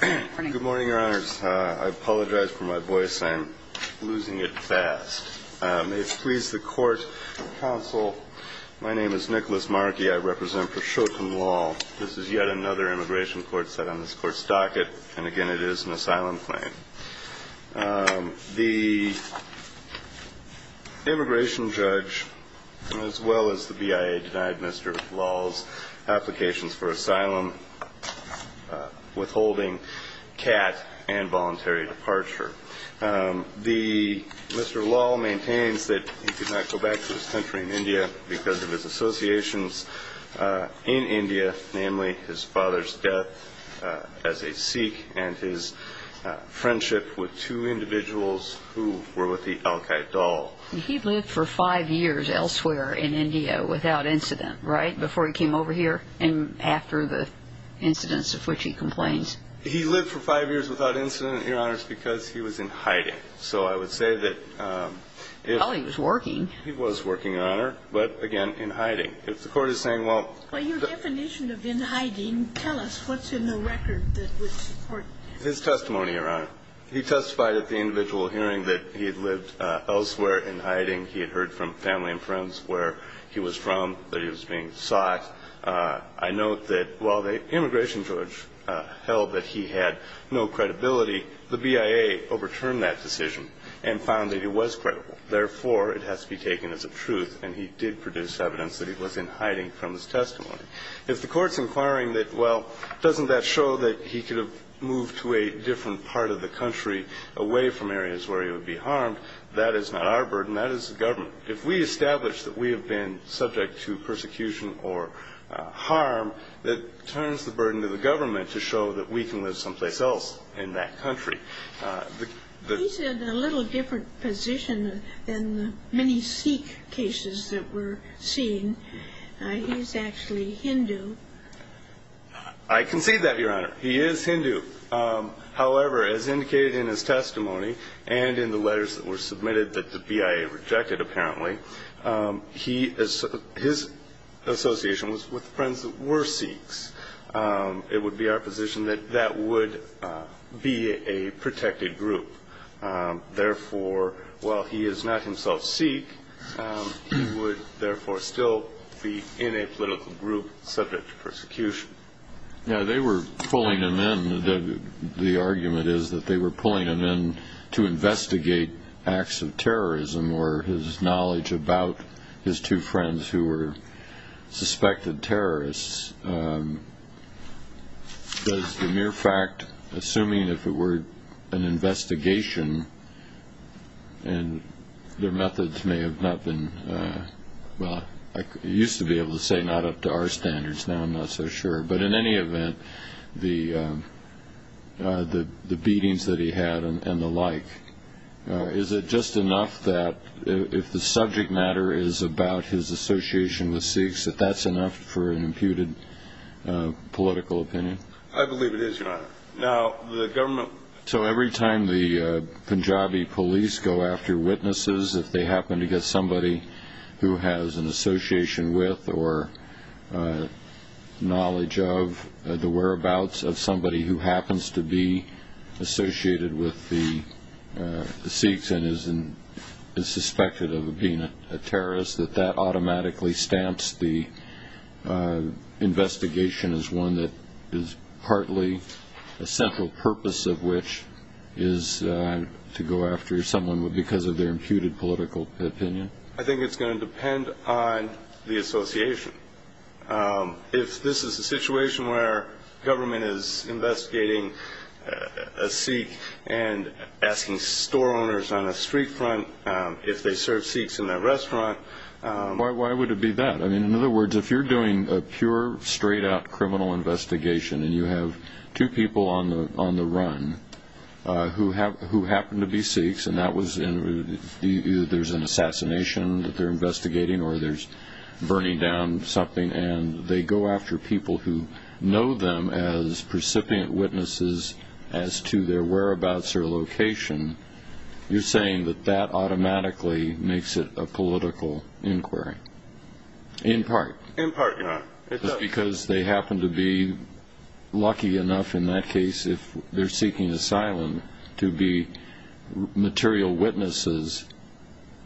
Good morning, your honors. I apologize for my voice. I'm losing it fast. May it please the court and counsel, my name is Nicholas Markey. I represent for Shoten Law. This is yet another immigration court set on this court's docket, and again, it is an asylum claim. The immigration judge, as well as the BIA, denied Mr. Lal's applications for asylum, withholding CAT and voluntary departure. Mr. Lal maintains that he could not go back to his country in India because of his associations in India, namely his father's death as a Sikh and his friendship with two Indian women. He lived for five years elsewhere in India without incident, right, before he came over here and after the incidents of which he complains? He lived for five years without incident, your honors, because he was in hiding. So I would say that if he was working, he was working, your honor, but again, in hiding. If the court is saying, well, Well, your definition of in hiding, tell us what's in the record that would support that. His testimony, your honor, he testified at the individual hearing that he had lived elsewhere in hiding. He had heard from family and friends where he was from that he was being sought. I note that while the immigration judge held that he had no credibility, the BIA overturned that decision and found that he was credible. Therefore, it has to be taken as a truth, and he did produce evidence that he was in hiding from his testimony. If the court's inquiring that, well, doesn't that show that he could have moved to a different part of the country away from areas where he would be harmed, that is not our burden. That is the government. If we establish that we have been subject to persecution or harm, that turns the burden to the government to show that we can live someplace else in that country. He's in a little different position than the many Sikh cases that we're seeing. He's actually Hindu. I concede that, your honor. He is Hindu. However, as indicated in his testimony and in the letters that were submitted that the BIA rejected, apparently, his association was with friends that were Sikhs. It would be our position that that would be a protected group. Therefore, while he is not himself Sikh, he would, therefore, still be in a political group subject to persecution. They were pulling him in. The argument is that they were pulling him in to investigate acts of terrorism or his knowledge about his two friends who were suspected terrorists. Does the mere fact, assuming if it were an investigation, and their methods may have not been, well, I used to be able to say not up to our standards. Now I'm not so sure. But in any event, the beatings that he had and the like, is it just enough that if the subject matter is about his association with Sikhs, that that's enough for an imputed political opinion? I believe it is, your honor. Now the government... So every time the Punjabi police go after witnesses, if they happen to get somebody who has an association with or knowledge of the whereabouts of somebody who happens to be associated with the Sikhs and is suspected of being a terrorist, that that automatically stamps the investigation as one that is partly a central purpose of which is to go after someone because of their imputed political opinion? I think it's going to depend on the association. If this is a situation where government is investigating a Sikh and asking store owners on a street front if they serve Sikhs in that restaurant... Why would it be that? In other words, if you're doing a pure, straight-out criminal investigation and you have two people on the run who happen to be Sikhs and either there's an assassination that they're investigating or there's burning down something and they go after people who know them as precipient witnesses as to their whereabouts or location, you're saying that that automatically makes it a political inquiry? In part? In part, your honor. Just because they happen to be lucky enough in that case, if they're seeking asylum, to be material witnesses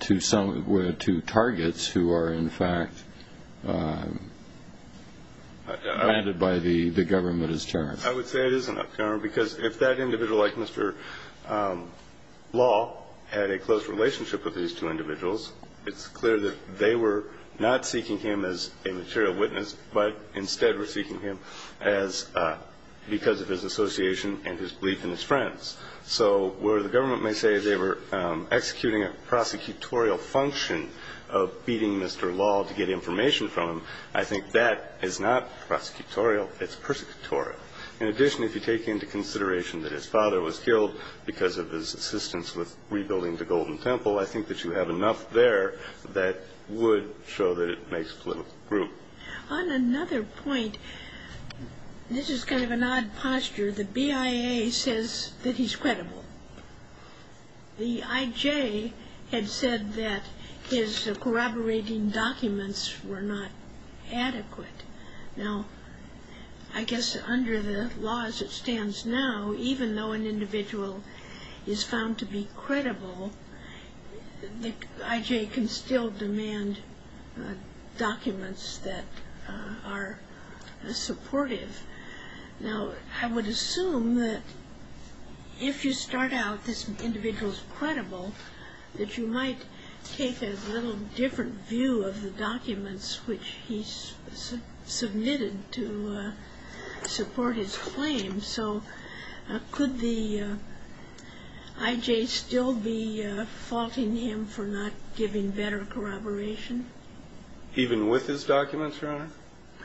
to targets who are, in fact, commanded by the government as terrorists? I would say it is enough, your honor, because if that individual like Mr. Law had a close relationship with these two individuals, it's clear that they were not seeking him as a material witness but instead were seeking him because of his association and his belief in his friends. So, where the government may say they were executing a prosecutorial function of beating Mr. Law to get information from him, I think that is not prosecutorial, it's persecutorial. In addition, if you take into consideration that his father was killed because of his assistance with rebuilding the Golden Temple, I think that you have enough there that would show that it makes political group. On another point, this is kind of an odd posture, the BIA says that he's credible. The IJ had said that his corroborating documents were not adequate. Now, I guess under the laws that stands now, even though an individual is found to be credible, the IJ can still demand documents that are supportive. Now, I would assume that if you start out this individual's credible, that you might take a little different view of the documents which he submitted to support his claim. So, could the IJ still be faulting him for not giving better corroboration? Even with his documents, your honor?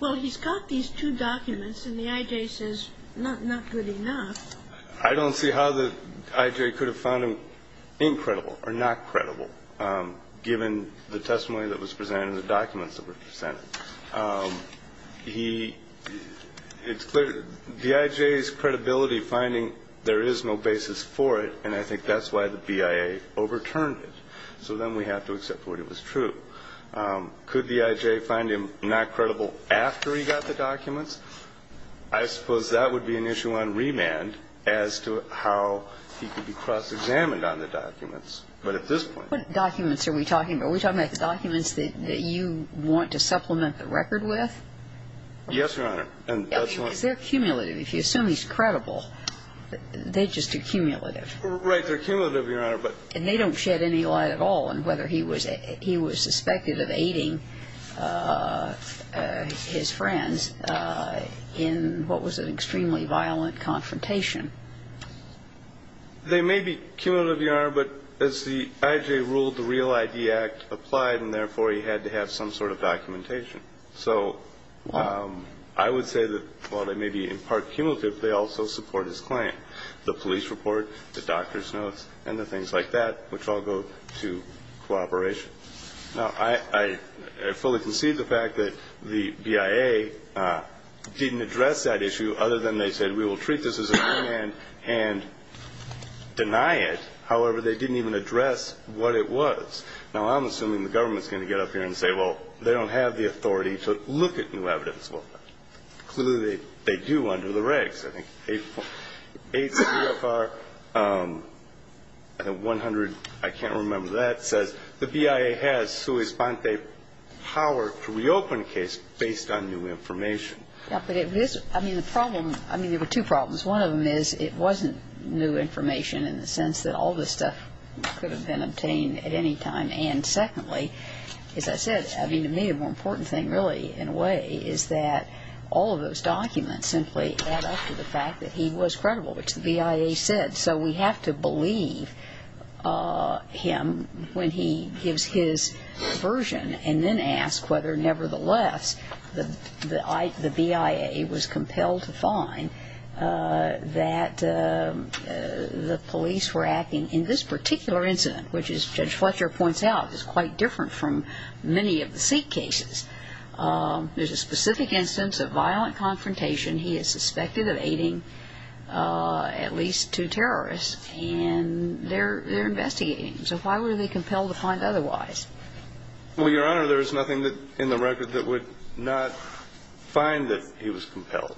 Well, he's got these two documents, and the IJ says not good enough. I don't see how the IJ could have found him incredible or not credible, given the testimony that was presented and the documents that were presented. He, it's clear, the IJ's credibility finding, there is no basis for it, and I think that's why the BIA overturned it. So then we have to accept what it was true. Could the IJ find him not credible after he got the documents? I suppose that would be an issue on remand as to how he could be cross-examined on the documents. But at this point. What documents are we talking about? Are we talking about the documents that you want to supplement the record with? Yes, your honor. Because they're cumulative. If you assume he's credible, they just are cumulative. Right. They're cumulative, your honor. And they don't shed any light at all on whether he was suspected of aiding his friends in what was an extremely violent confrontation. They may be cumulative, your honor, but as the IJ ruled, the Real ID Act applied, and therefore he had to have some sort of documentation. So I would say that while they may be in part cumulative, they also support his claim. The police report, the doctor's notes, and the things like that, which all go to cooperation. Now, I fully concede the fact that the BIA didn't address that issue other than they said we will treat this as a remand and deny it. However, they didn't even address what it was. Now, I'm assuming the government's going to get up here and say, well, they don't have the authority to look at new evidence. Well, clearly they do under the regs. I think ACFR 100, I can't remember that, says the BIA has sui sponte power to reopen a case based on new information. Yeah, but it was – I mean, the problem – I mean, there were two problems. One of them is it wasn't new information in the sense that all this stuff could have been obtained at any time. And secondly, as I said, I mean, to me a more important thing, really, in a way, is that all of those documents simply add up to the fact that he was credible, which the BIA said. So we have to believe him when he gives his version and then ask whether, nevertheless, the BIA was compelled to find that the police were acting in this particular incident, which, as Judge Fletcher points out, is quite different from many of the seat cases. There's a specific instance of violent confrontation. He is suspected of aiding at least two terrorists, and they're investigating him. So why were they compelled to find otherwise? Well, Your Honor, there is nothing in the record that would not find that he was compelled.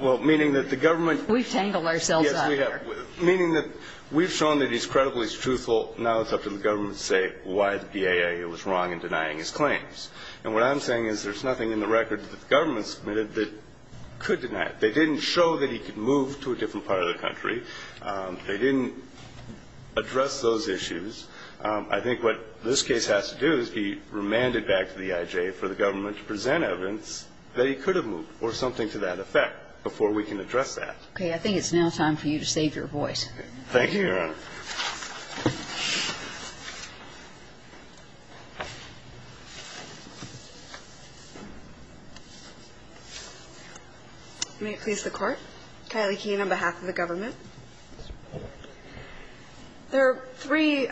Well, meaning that the government – We've tangled ourselves up here. Yes, we have. Meaning that we've shown that he's credible, he's truthful. Now it's up to the government to say why the BIA was wrong in denying his claims. And what I'm saying is there's nothing in the record that the government submitted that could deny it. They didn't show that he could move to a different part of the country. They didn't address those issues. I think what this case has to do is be remanded back to the IJ for the government to present evidence that he could have moved or something to that effect before we can address that. Okay. I think it's now time for you to save your voice. Thank you, Your Honor. May it please the Court. Kylie Keene on behalf of the government. There are three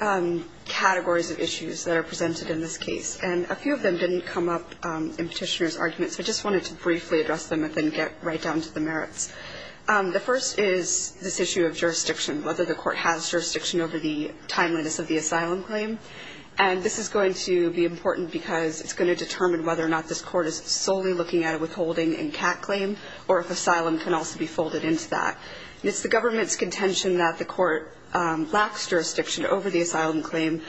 categories of issues that are presented in this case, and a few of them didn't come up in Petitioner's arguments. I just wanted to briefly address them and then get right down to the merits. The first is this issue of jurisdiction, whether the court has jurisdiction over the timeliness of the asylum claim. And this is going to be important because it's going to determine whether or not this court is solely looking at a withholding and cat claim or if asylum can also be folded into that. It's the government's contention that the court lacks jurisdiction over the asylum claim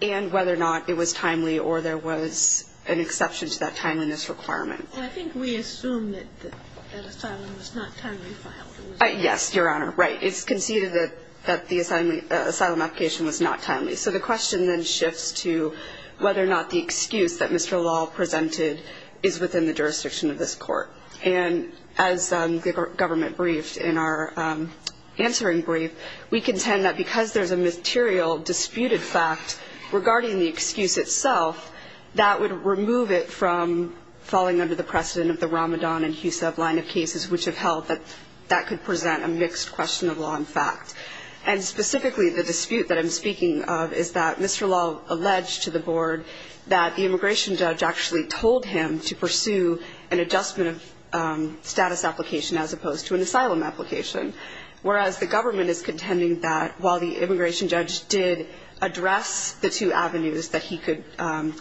and whether or not it was timely or there was an exception to that timeliness requirement. I think we assume that asylum was not timely filed. Yes, Your Honor. Right. It's conceded that the asylum application was not timely. So the question then shifts to whether or not the excuse that Mr. Law presented is within the jurisdiction of this court. And as the government briefed in our answering brief, we contend that because there's a material disputed fact regarding the excuse itself, that would remove it from falling under the precedent of the Ramadan and Hussab line of cases, which have held that that could present a mixed question of law and fact. And specifically the dispute that I'm speaking of is that Mr. Law alleged to the board that the immigration judge actually told him to pursue an adjustment of status application as opposed to an asylum application, whereas the government is contending that while the immigration judge did address the two avenues that he could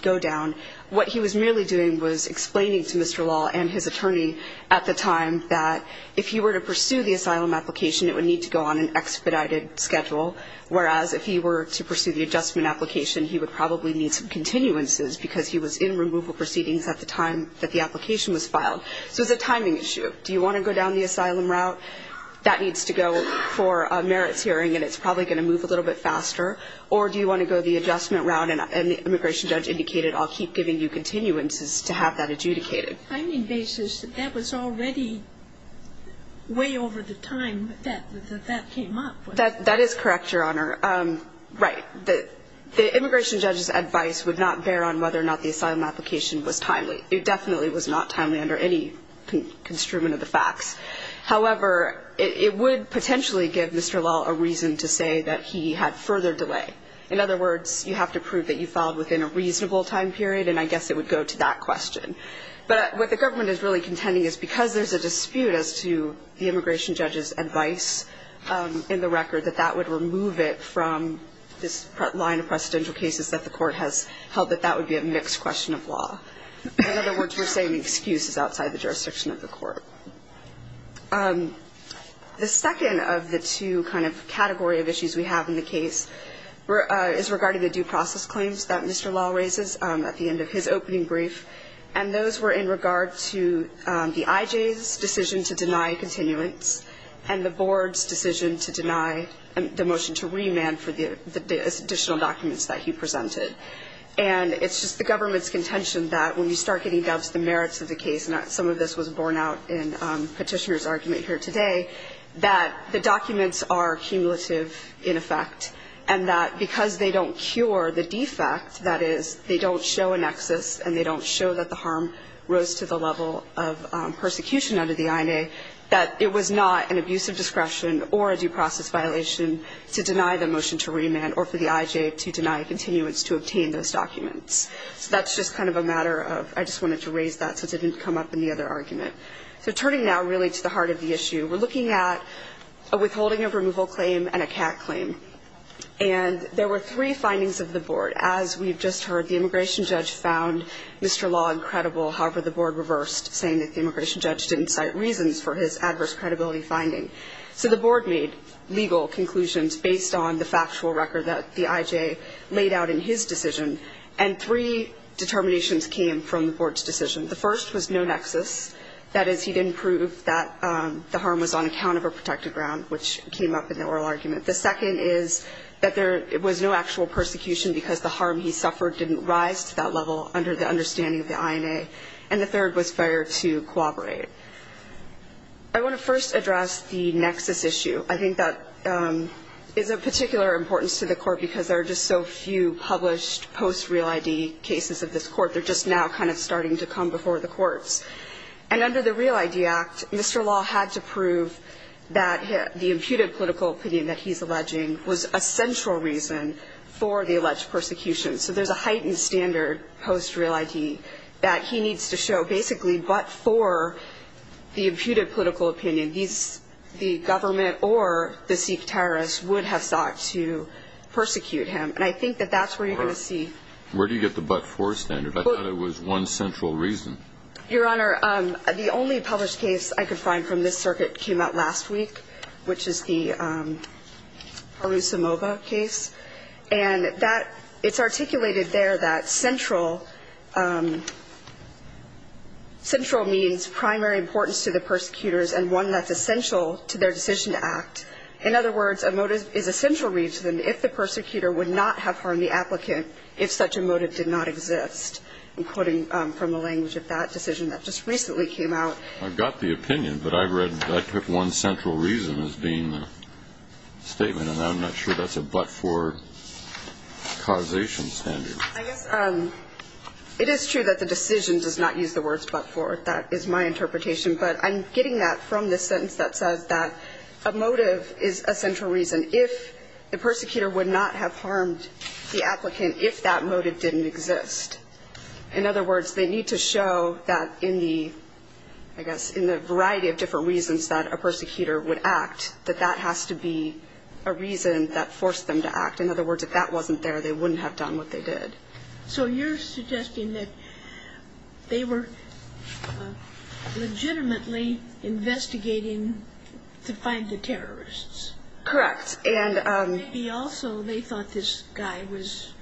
go down, what he was merely doing was explaining to Mr. Law and his attorney at the time that if he were to pursue the asylum application, it would need to go on an expedited schedule, whereas if he were to pursue the adjustment application, he would probably need some continuances because he was in removal proceedings at the time that the application was filed. So it's a timing issue. Do you want to go down the asylum route? That needs to go for a merits hearing, and it's probably going to move a little bit faster. Or do you want to go the adjustment route, and the immigration judge indicated I'll keep giving you continuances to have that adjudicated? I mean, that was already way over the time that that came up. That is correct, Your Honor. Right. The immigration judge's advice would not bear on whether or not the asylum application was timely. It definitely was not timely under any construment of the facts. However, it would potentially give Mr. Law a reason to say that he had further delay. In other words, you have to prove that you filed within a reasonable time period, and I guess it would go to that question. But what the government is really contending is because there's a dispute as to the immigration judge's advice in the record, that that would remove it from this line of precedential cases that the court has held, that that would be a mixed question of law. In other words, we're saying the excuse is outside the jurisdiction of the court. The second of the two kind of category of issues we have in the case is regarding the due process claims that Mr. Law raises at the end of his opening brief, and those were in regard to the IJ's decision to deny continuance and the board's decision to deny the motion to remand for the additional documents that he presented. And it's just the government's contention that when you start getting down to the merits of the case, and some of this was borne out in Petitioner's argument here today, that the documents are cumulative in effect and that because they don't cure the defect, that is they don't show a nexus and they don't show that the harm rose to the level of persecution under the INA, that it was not an abuse of discretion or a due process violation to deny the motion to remand or for the IJ to deny continuance to obtain those documents. So that's just kind of a matter of I just wanted to raise that since it didn't come up in the other argument. So turning now really to the heart of the issue, we're looking at a withholding of removal claim and a CAC claim. And there were three findings of the board. As we've just heard, the immigration judge found Mr. Long credible. However, the board reversed, saying that the immigration judge didn't cite reasons for his adverse credibility finding. So the board made legal conclusions based on the factual record that the IJ laid out in his decision, and three determinations came from the board's decision. The first was no nexus. That is, he didn't prove that the harm was on account of a protected ground, which came up in the oral argument. The second is that there was no actual persecution because the harm he suffered didn't rise to that level under the understanding of the INA. And the third was failure to cooperate. I want to first address the nexus issue. I think that is of particular importance to the court because there are just so few published post-real ID cases of this court. They're just now kind of starting to come before the courts. And under the Real ID Act, Mr. Long had to prove that the imputed political opinion that he's alleging was a central reason for the alleged persecution. So there's a heightened standard post-real ID that he needs to show basically but for the imputed political opinion, the government or the Sikh terrorists would have sought to persecute him. And I think that that's where you're going to see. Where do you get the but for standard? I thought it was one central reason. Your Honor, the only published case I could find from this circuit came out last week, which is the Harusimova case. And that it's articulated there that central means primary importance to the persecutors and one that's essential to their decision to act. In other words, a motive is a central reason if the persecutor would not have harmed the applicant if such a motive did not exist. I'm quoting from the language of that decision that just recently came out. I've got the opinion, but I've read that one central reason as being the statement. And I'm not sure that's a but for causation standard. I guess it is true that the decision does not use the words but for. That is my interpretation. But I'm getting that from the sentence that says that a motive is a central reason. If the persecutor would not have harmed the applicant if that motive didn't exist. In other words, they need to show that in the, I guess, in the variety of different reasons that a persecutor would act, that that has to be a reason that forced them to act. In other words, if that wasn't there, they wouldn't have done what they did. So you're suggesting that they were legitimately investigating to find the terrorists? Correct. Maybe also they thought this guy was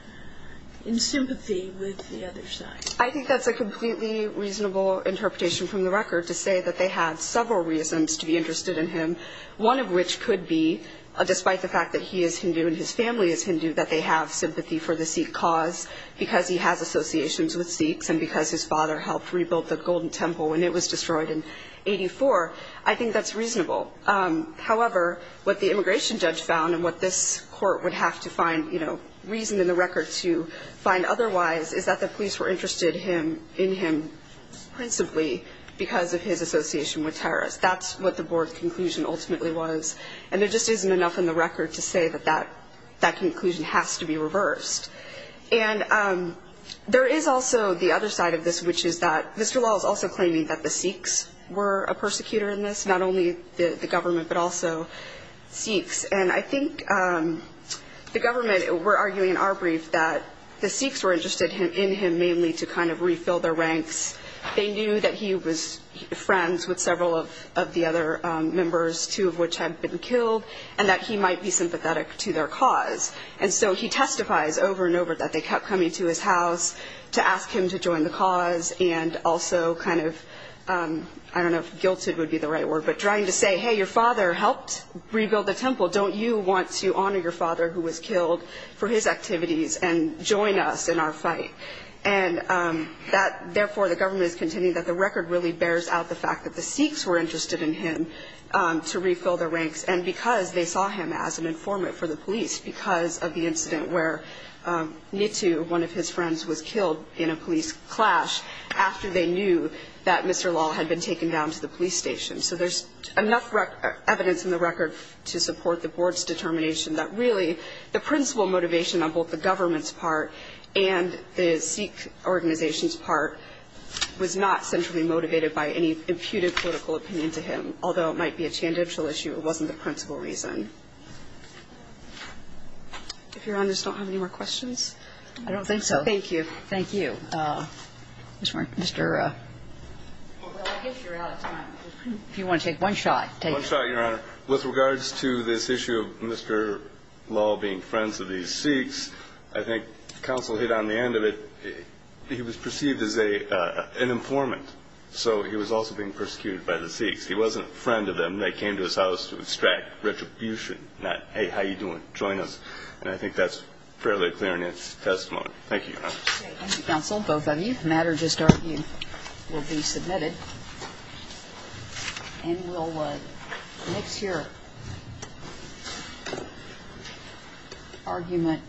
in sympathy with the other side. I think that's a completely reasonable interpretation from the record to say that they had several reasons to be interested in him. One of which could be, despite the fact that he is Hindu and his family is Hindu, that they have sympathy for the Sikh cause because he has associations with Sikhs and because his father helped rebuild the Golden Temple when it was destroyed in 84. I think that's reasonable. However, what the immigration judge found and what this court would have to find, reason in the record to find otherwise, is that the police were interested in him principally because of his association with terrorists. That's what the board conclusion ultimately was. And there just isn't enough in the record to say that that conclusion has to be reversed. And there is also the other side of this, which is that Mr. Lal is also claiming that the Sikhs were a persecutor in this, not only the government but also Sikhs. And I think the government were arguing in our brief that the Sikhs were interested in him mainly to kind of refill their ranks. They knew that he was friends with several of the other members, two of which had been killed, and that he might be sympathetic to their cause. And so he testifies over and over that they kept coming to his house to ask him to join the cause and also kind of, I don't know if guilted would be the right word, but trying to say, hey, your father helped rebuild the temple. Don't you want to honor your father who was killed for his activities and join us in our fight? And that, therefore, the government is contending that the record really bears out the fact that the Sikhs were interested in him to refill their ranks. And because they saw him as an informant for the police, because of the incident where Nitu, one of his friends, was killed in a police clash, after they knew that Mr. Lal had been taken down to the police station. So there's enough evidence in the record to support the board's determination that, really, the principal motivation on both the government's part and the Sikh organization's part was not centrally motivated by any imputed political opinion to him, although it might be a tangential issue. It wasn't the principal reason. If Your Honors don't have any more questions. I don't think so. Thank you. Thank you. Ms. Martin. Mr. Well, I guess you're out of time. If you want to take one shot, take it. One shot, Your Honor. With regards to this issue of Mr. Lal being friends of these Sikhs, I think counsel hit on the end of it. He was perceived as an informant, so he was also being persecuted by the Sikhs. He wasn't a friend of them. They came to his house to extract retribution, not, hey, how you doing, join us. And I think that's fairly clear in its testimony. Thank you, Your Honors. Thank you, counsel, both of you. The matter just argued will be submitted. And we'll mix your argument.